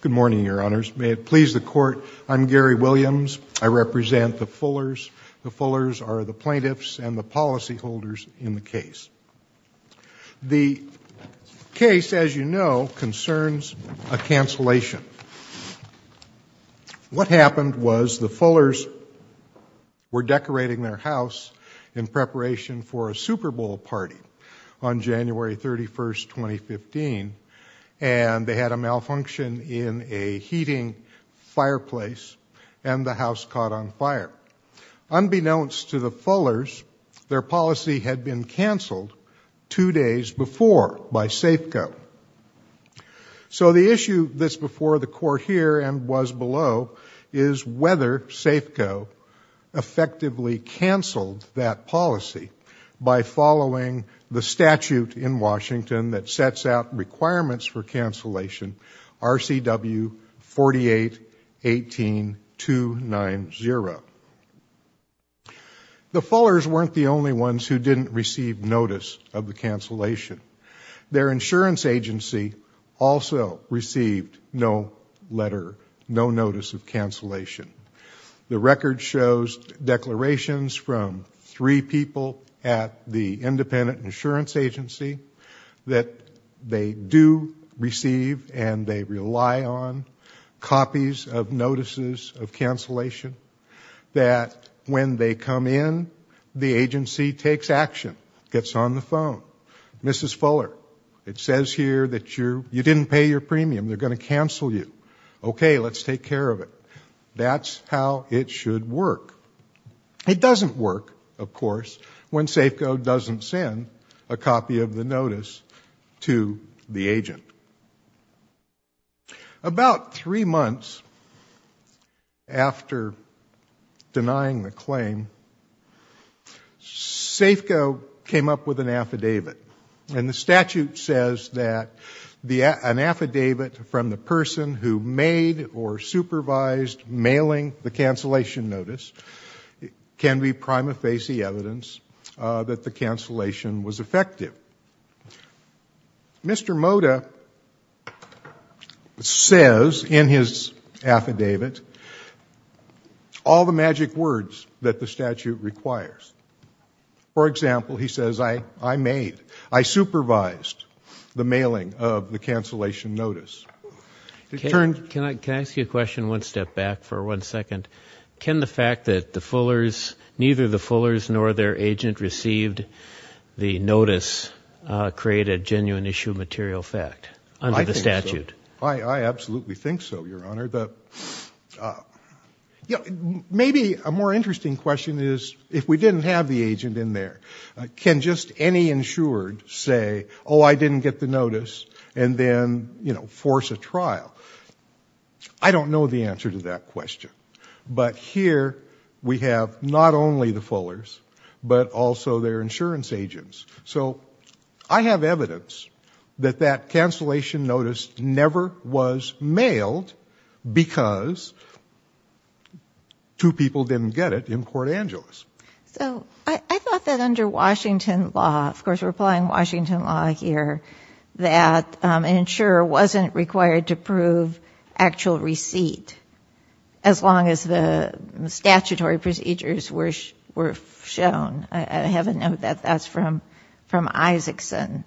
Good morning, Your Honors. May it please the Court, I'm Gary Williams. I represent the Fullers. The Fullers are the plaintiffs and the policyholders in the case. The case, as you know, concerns a cancellation. What happened was the Fullers were decorating their house in preparation for a Super Bowl party on a malfunction in a heating fireplace and the house caught on fire. Unbeknownst to the Fullers, their policy had been canceled two days before by Safeco. So the issue that's before the Court here and was below is whether Safeco effectively canceled that policy by following the statute in Washington that RCW 4818290. The Fullers weren't the only ones who didn't receive notice of the cancellation. Their insurance agency also received no letter, no notice of cancellation. The record shows declarations from three people at the agency, and they rely on copies of notices of cancellation, that when they come in, the agency takes action, gets on the phone. Mrs. Fuller, it says here that you didn't pay your premium, they're going to cancel you. Okay, let's take care of it. That's how it should work. It doesn't work, of course, when Safeco doesn't send a copy of the notice to the agent. About three months after denying the claim, Safeco came up with an affidavit, and the statute says that an affidavit from the person who made or can be prima facie evidence that the cancellation was effective. Mr. Moda says in his affidavit all the magic words that the statute requires. For example, he says, I made, I supervised the mailing of the cancellation notice. Can I ask you a question one step back for one second? Can the fact that the Fullers, neither the Fullers nor their agent received the notice, create a genuine issue of material fact under the statute? I absolutely think so, Your Honor. Maybe a more interesting question is, if we didn't have the agent in there, can just any insured say, oh, I didn't get the notice, and then force a trial? I don't know the answer to that question, but here we have not only the Fullers, but also their insurance agents. So I have evidence that that cancellation notice never was mailed because two people didn't get it in Port Angeles. So I thought that under Washington law, of course we're applying Washington law here, that an insurer wasn't required to prove actual receipt as long as the statutory procedures were shown. I have a note that that's from Isaacson.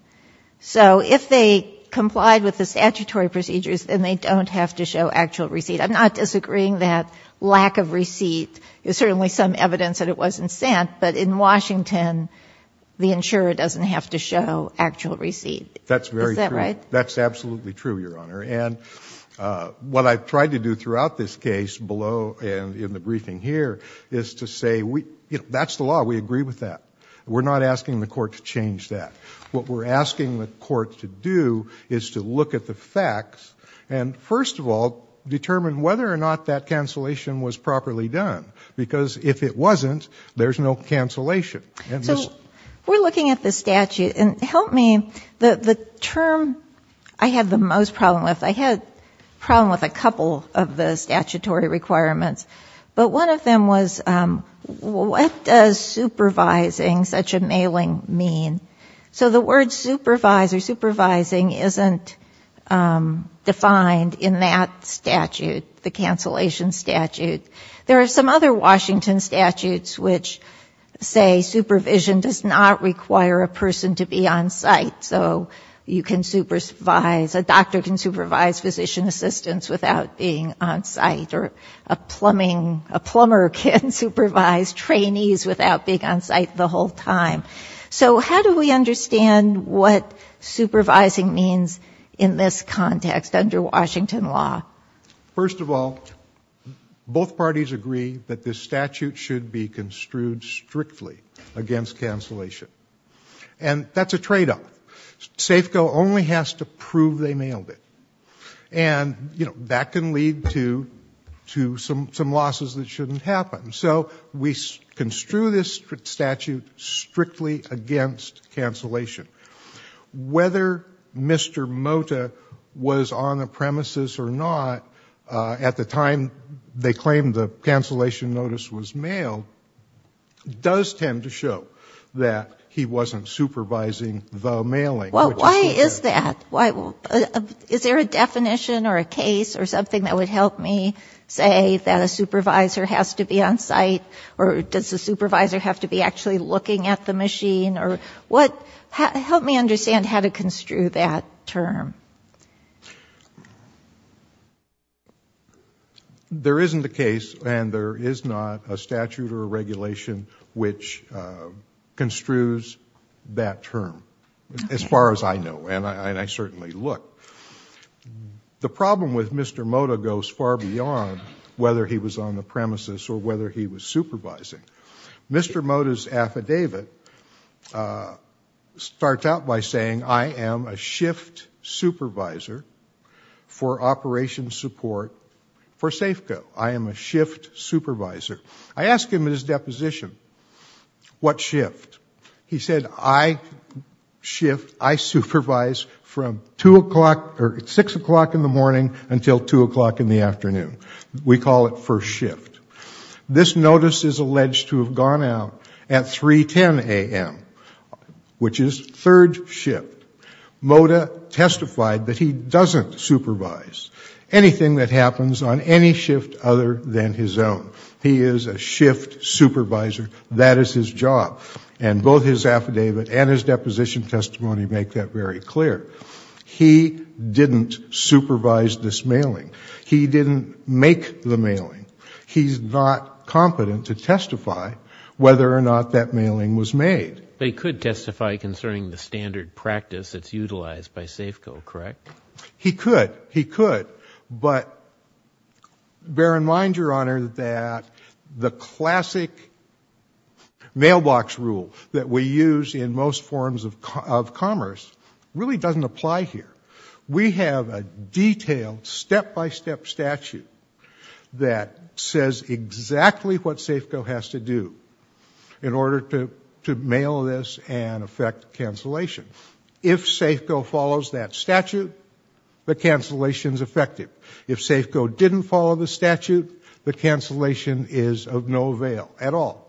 So if they complied with the statutory procedures, then they don't have to show actual receipt. I'm not disagreeing that lack of receipt is certainly some evidence that it wasn't sent, but in Washington, the insurer doesn't have to show actual receipt. Is that right? That's absolutely true, Your Honor. And what I've tried to do throughout this case below and in the briefing here is to say, that's the law. We agree with that. We're not asking the court to change that. What we're asking the court to do is to look at the facts and, first of all, determine whether or not that cancellation was properly done. Because if it wasn't, there's no cancellation. So we're looking at the statute. And help me, the term I had the most problem with, I had a problem with a couple of the statutory requirements. But one of them was, what does supervising such a mailing mean? So the word supervise or supervising isn't defined in that statute, the cancellation statute. There are some other Washington statutes which say supervision does not require a person to be on site. So you can supervise, a doctor can supervise physician assistants without being on site. Or a plumbing, a plumber can supervise trainees without being on site the whole time. So how do we understand what supervising means in this context under Washington law? First of all, both parties agree that this statute should be construed strictly against cancellation. And that's a trade off. Safeco only has to prove they mailed it. And that can lead to some losses that shouldn't happen. So we construe this statute strictly against cancellation. Whether Mr. Mota was on the premises or not at the time they claimed the cancellation notice was mailed does tend to show that he wasn't supervising the mailing. Well, why is that? Is there a definition or a case or something that would help me say that a supervisor has to be on site? Or does the supervisor have to be actually looking at the machine? Help me understand how to construe that term. There isn't a case and there is not a statute or a regulation which construes that term as far as I know. And I certainly look. The problem with Mr. Mota goes far beyond whether he was on the premises or whether he was supervising. Mr. Mota's affidavit starts out by saying, I am a shift supervisor for operations support for Safeco. I am a shift supervisor. I ask him at his deposition, what shift? He said, I shift, I supervise from 6 o'clock in the morning until 2 o'clock in the afternoon. We call it first shift. This notice is alleged to have gone out at 3.10 a.m., which is third shift. Mota testified that he doesn't supervise anything that happens on any shift other than his own. He is a shift supervisor. That is his job. And both his affidavit and his deposition testimony make that very clear. He didn't supervise this mailing. He didn't make the mailing. He is not competent to testify whether or not that mailing was made. But he could testify concerning the standard practice that is utilized by Safeco, correct? He could. He could. But bear in mind, Your Honor, that the classic mailbox rule that we use in most forms of commerce really doesn't apply here. We have a detailed step-by-step statute that says exactly what Safeco has to do in order to mail this and effect cancellation. If Safeco follows that statute, the cancellation is effective. If Safeco didn't follow the statute, the cancellation is of no avail at all.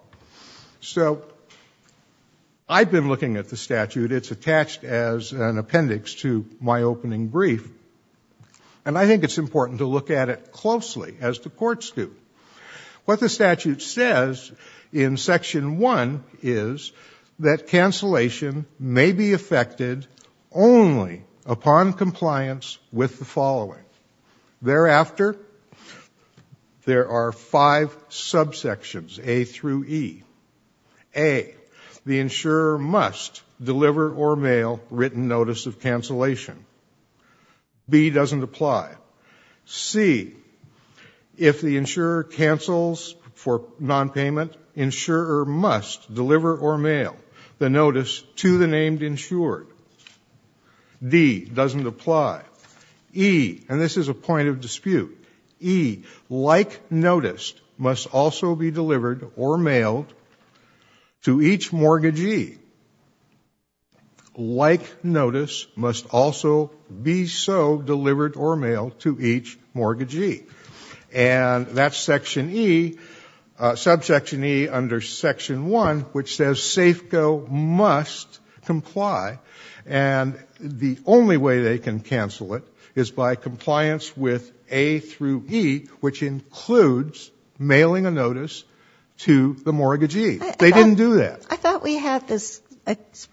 So I've been looking at the statute. It's attached as an appendix to my opening brief. And I think it's important to look at it closely, as the courts do. What the statute says in Section 1 is that cancellation may be effected only upon compliance with the following. Thereafter, there are five subsections, A through E. A, the insurer must deliver or mail written notice of cancellation. B doesn't apply. C, if the insurer cancels for nonpayment, insurer must deliver or mail the notice to the named insured. D doesn't apply. E, and this is a point of dispute, E, like notice must also be delivered or mailed to each mortgagee. Like notice must also be so delivered or mailed to each mortgagee. And that's Section E, subsection E under Section 1, which says Safeco must comply. And the only way they can cancel it is by compliance with A through E, which includes mailing a notice to the mortgagee. They didn't do that. I thought we had this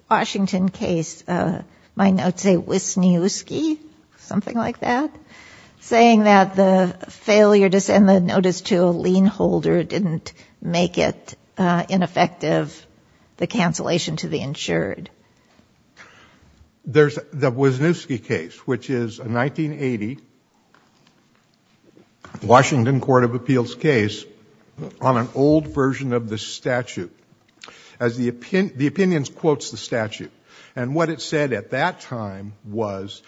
Washington case, my notes say Wisniewski, something like that, saying that the failure to send the notice to a lien holder didn't make it ineffective, the cancellation to the insured. There's the Wisniewski case, which is a 1980 Washington Court of Appeals case on an old version of the statute. The opinions quotes the statute, and what it said at that time was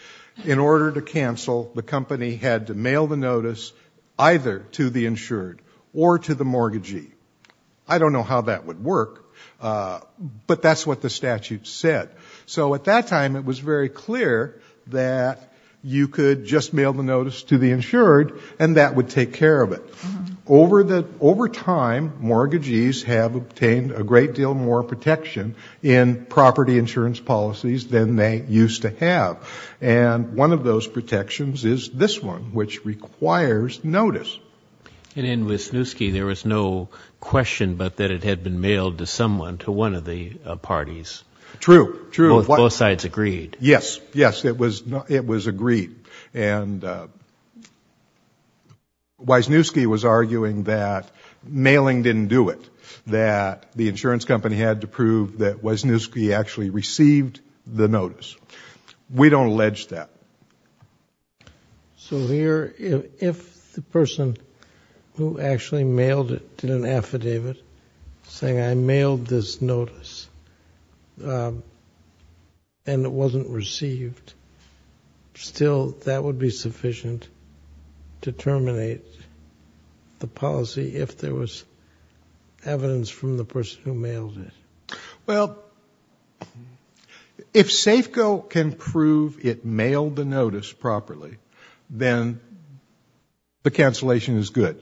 in order to cancel, the company had to mail the notice either to the insured or to the mortgagee. I don't know how that would work, but that's what the statute said. So at that time it was very clear that you could just mail the notice to the insured and that would take care of it. Over time, mortgagees have obtained a great deal more protection in property insurance policies than they used to have. And one of those protections is this one, which requires notice. And in Wisniewski, there was no question but that it had been mailed to someone, to one of the parties. True. Both sides agreed. Yes, yes, it was agreed. And Wisniewski was arguing that mailing didn't do it, that the insurance company had to prove that Wisniewski actually received the notice. We don't allege that. So here, if the person who actually mailed it did an affidavit saying, I mailed this notice and it wasn't received, still that would be sufficient to terminate the policy if there was evidence from the person who mailed it. Well, if SAFCO can prove it mailed the notice properly, then the cancellation is good.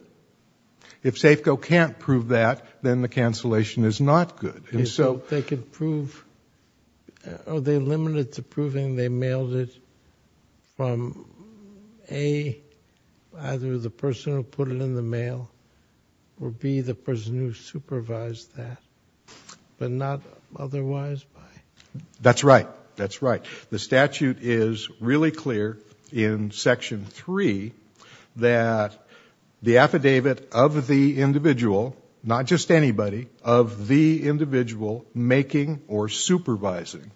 If SAFCO can't prove that, then the cancellation is not good. They could prove, or they limited to proving they mailed it from, A, either the person who put it in the mail, or B, the person who supervised that, but not otherwise. That's right, that's right. The statute is really clear in Section 3 that the affidavit of the individual, not just anybody, of the individual making or supervising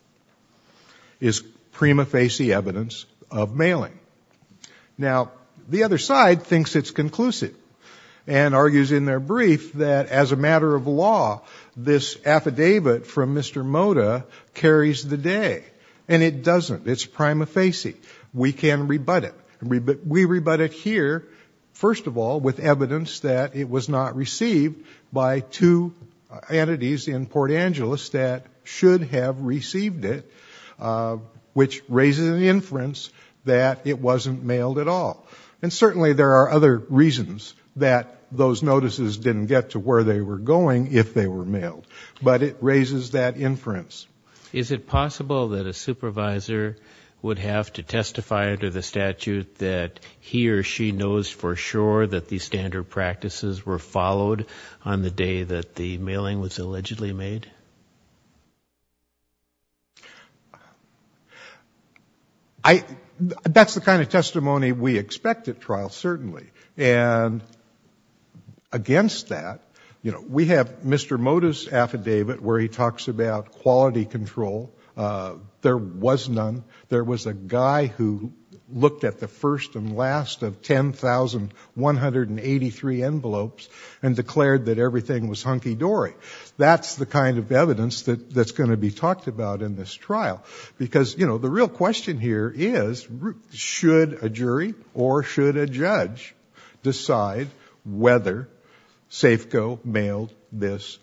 is prima facie evidence of mailing. Now, the other side thinks it's conclusive and argues in their brief that as a matter of law, this affidavit from Mr. Moda carries the day. And it doesn't. It's prima facie. We can rebut it. We rebut it here, first of all, with evidence that it was not received by two entities in Port Angeles that should have received it, which raises an inference that it wasn't mailed at all. And certainly there are other reasons that those notices didn't get to where they were going if they were mailed. But it raises that inference. Is it possible that a supervisor would have to testify under the statute that he or she knows for sure that these standard practices were followed on the day that the mailing was allegedly made? That's the kind of testimony we expect at trial, certainly. And against that, we have Mr. Moda's affidavit where he talks about quality control. There was none. There was a guy who looked at the first and last of 10,183 envelopes and declared that everything was hunky-dory. That's the kind of evidence that's going to be talked about in this trial. Because the real question here is, should a jury or should a judge decide whether Safeco mailed this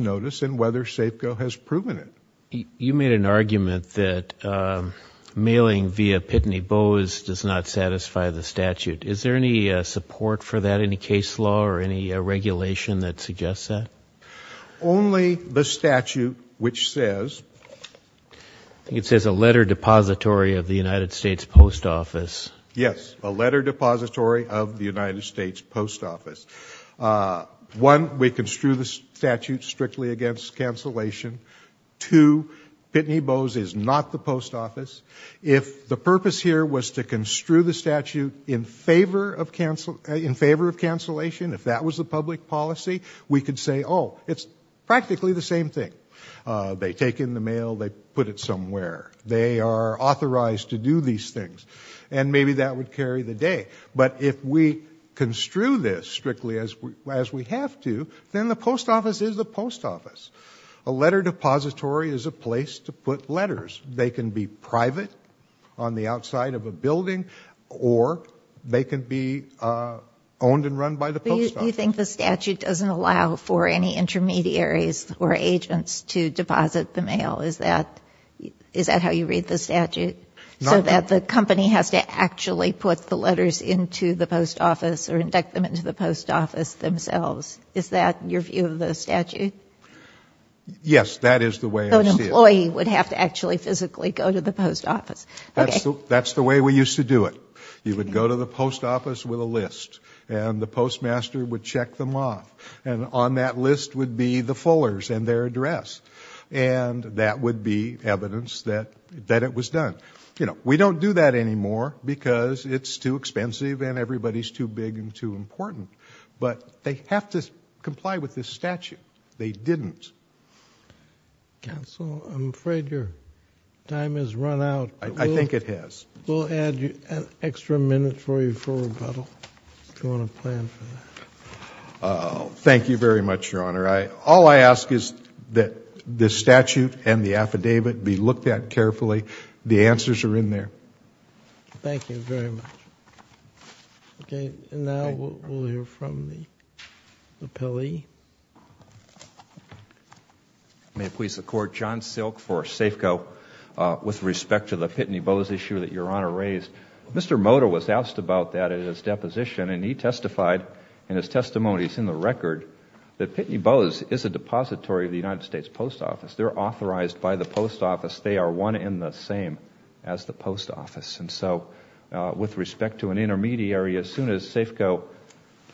notice and whether Safeco has proven it? You made an argument that mailing via Pitney Bowes does not satisfy the statute. Is there any support for that, any case law or any regulation that suggests that? Only the statute which says- It says a letter depository of the United States Post Office. Yes, a letter depository of the United States Post Office. One, we construe the statute strictly against cancellation. Two, Pitney Bowes is not the post office. If the purpose here was to construe the statute in favor of cancellation, if that was the public policy, we could say, oh, it's practically the same thing. They take in the mail, they put it somewhere. They are authorized to do these things. And maybe that would carry the day. But if we construe this strictly as we have to, then the post office is the post office. A letter depository is a place to put letters. They can be private on the outside of a building or they can be owned and run by the post office. Do you think the statute doesn't allow for any intermediaries or agents to deposit the mail? Is that how you read the statute? So that the company has to actually put the letters into the post office or induct them into the post office themselves. Is that your view of the statute? Yes, that is the way I see it. So the employee would have to actually physically go to the post office. That's the way we used to do it. You would go to the post office with a list and the postmaster would check them off. And on that list would be the fullers and their address. And that would be evidence that it was done. You know, we don't do that anymore because it's too expensive and everybody's too big and too important. But they have to comply with this statute. They didn't. Counsel, I'm afraid your time has run out. I think it has. We'll add an extra minute for you for rebuttal if you want to plan for that. Thank you very much, Your Honor. All I ask is that the statute and the affidavit be looked at carefully. The answers are in there. Thank you very much. Okay, and now we'll hear from the appellee. May it please the Court, John Silk for Safeco. With respect to the Pitney Bowes issue that Your Honor raised, Mr. Moda was asked about that in his deposition, and he testified in his testimony. It's in the record that Pitney Bowes is a depository of the United States Post Office. They're authorized by the post office. They are one and the same as the post office. And so with respect to an intermediary, as soon as Safeco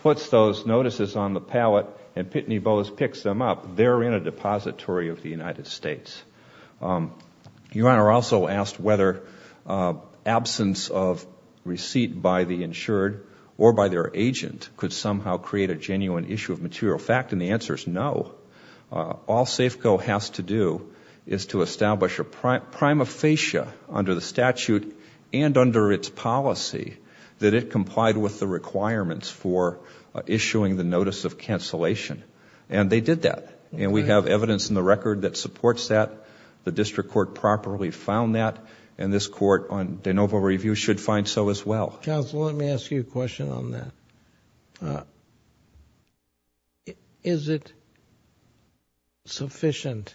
puts those notices on the pallet and Pitney Bowes picks them up, they're in a depository of the United States. Your Honor also asked whether absence of receipt by the insured or by their agent could somehow create a genuine issue of material fact, and the answer is no. All Safeco has to do is to establish a prima facie under the statute and under its policy that it complied with the requirements for issuing the notice of cancellation. And they did that, and we have evidence in the record that supports that. The district court properly found that, and this court on de novo review should find so as well. Counsel, let me ask you a question on that. Is it sufficient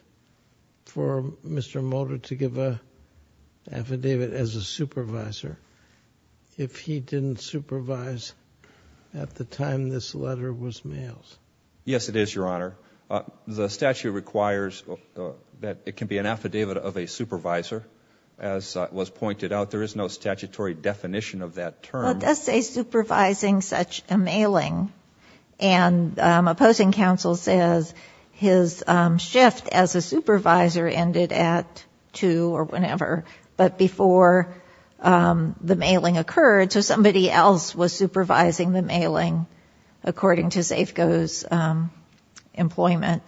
for Mr. Motor to give an affidavit as a supervisor if he didn't supervise at the time this letter was mailed? Yes, it is, Your Honor. The statute requires that it can be an affidavit of a supervisor. As was pointed out, there is no statutory definition of that term. Well, it does say supervising such a mailing, and a posting counsel says his shift as a supervisor ended at 2 or whenever, but before the mailing occurred, so somebody else was supervising the mailing according to Safeco's employment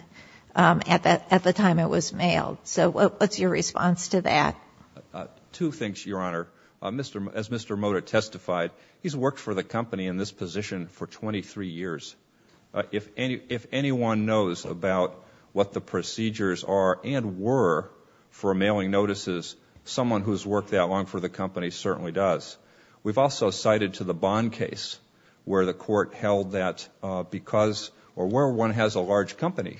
at the time it was mailed. So what's your response to that? Two things, Your Honor. As Mr. Motor testified, he's worked for the company in this position for 23 years. If anyone knows about what the procedures are and were for mailing notices, someone who's worked that long for the company certainly does. We've also cited to the Bond case where the court held that because or where one has a large company,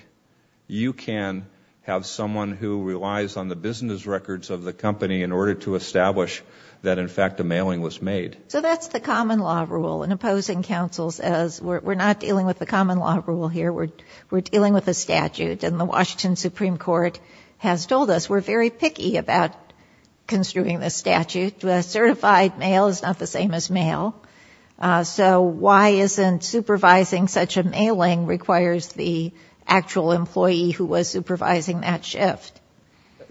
you can have someone who relies on the business records of the company in order to establish that, in fact, a mailing was made. So that's the common law rule in opposing counsels as we're not dealing with the common law rule here. We're dealing with a statute, and the Washington Supreme Court has told us we're very picky about construing this statute. A certified mail is not the same as mail. So why isn't supervising such a mailing requires the actual employee who was supervising that shift?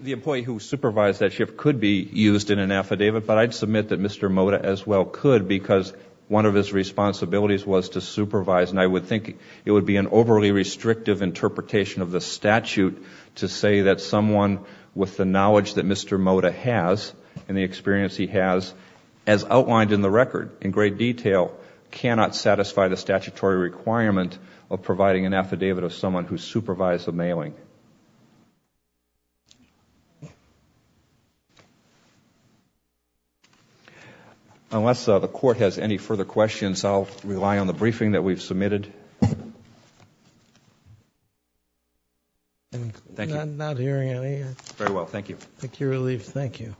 The employee who supervised that shift could be used in an affidavit, but I'd submit that Mr. Mota as well could because one of his responsibilities was to supervise, and I would think it would be an overly restrictive interpretation of the statute to say that someone with the knowledge that Mr. Mota has and the experience he has as outlined in the record in great detail cannot satisfy the statutory requirement of providing an affidavit of someone who supervised the mailing. Unless the Court has any further questions, I'll rely on the briefing that we've submitted. I'm not hearing any. Very well, thank you. Thank you, Relief. Thank you.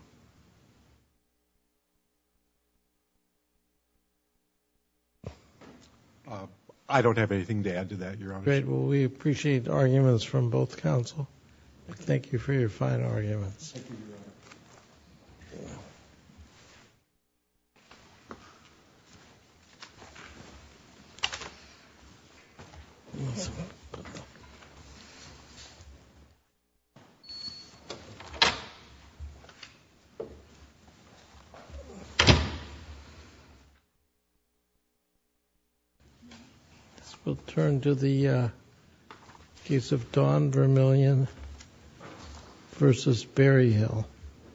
I don't have anything to add to that, Your Honor. Great. Well, we appreciate arguments from both counsel. Thank you for your fine arguments. Thank you, Your Honor. This will turn to the case of Don Vermillion v. Berryhill.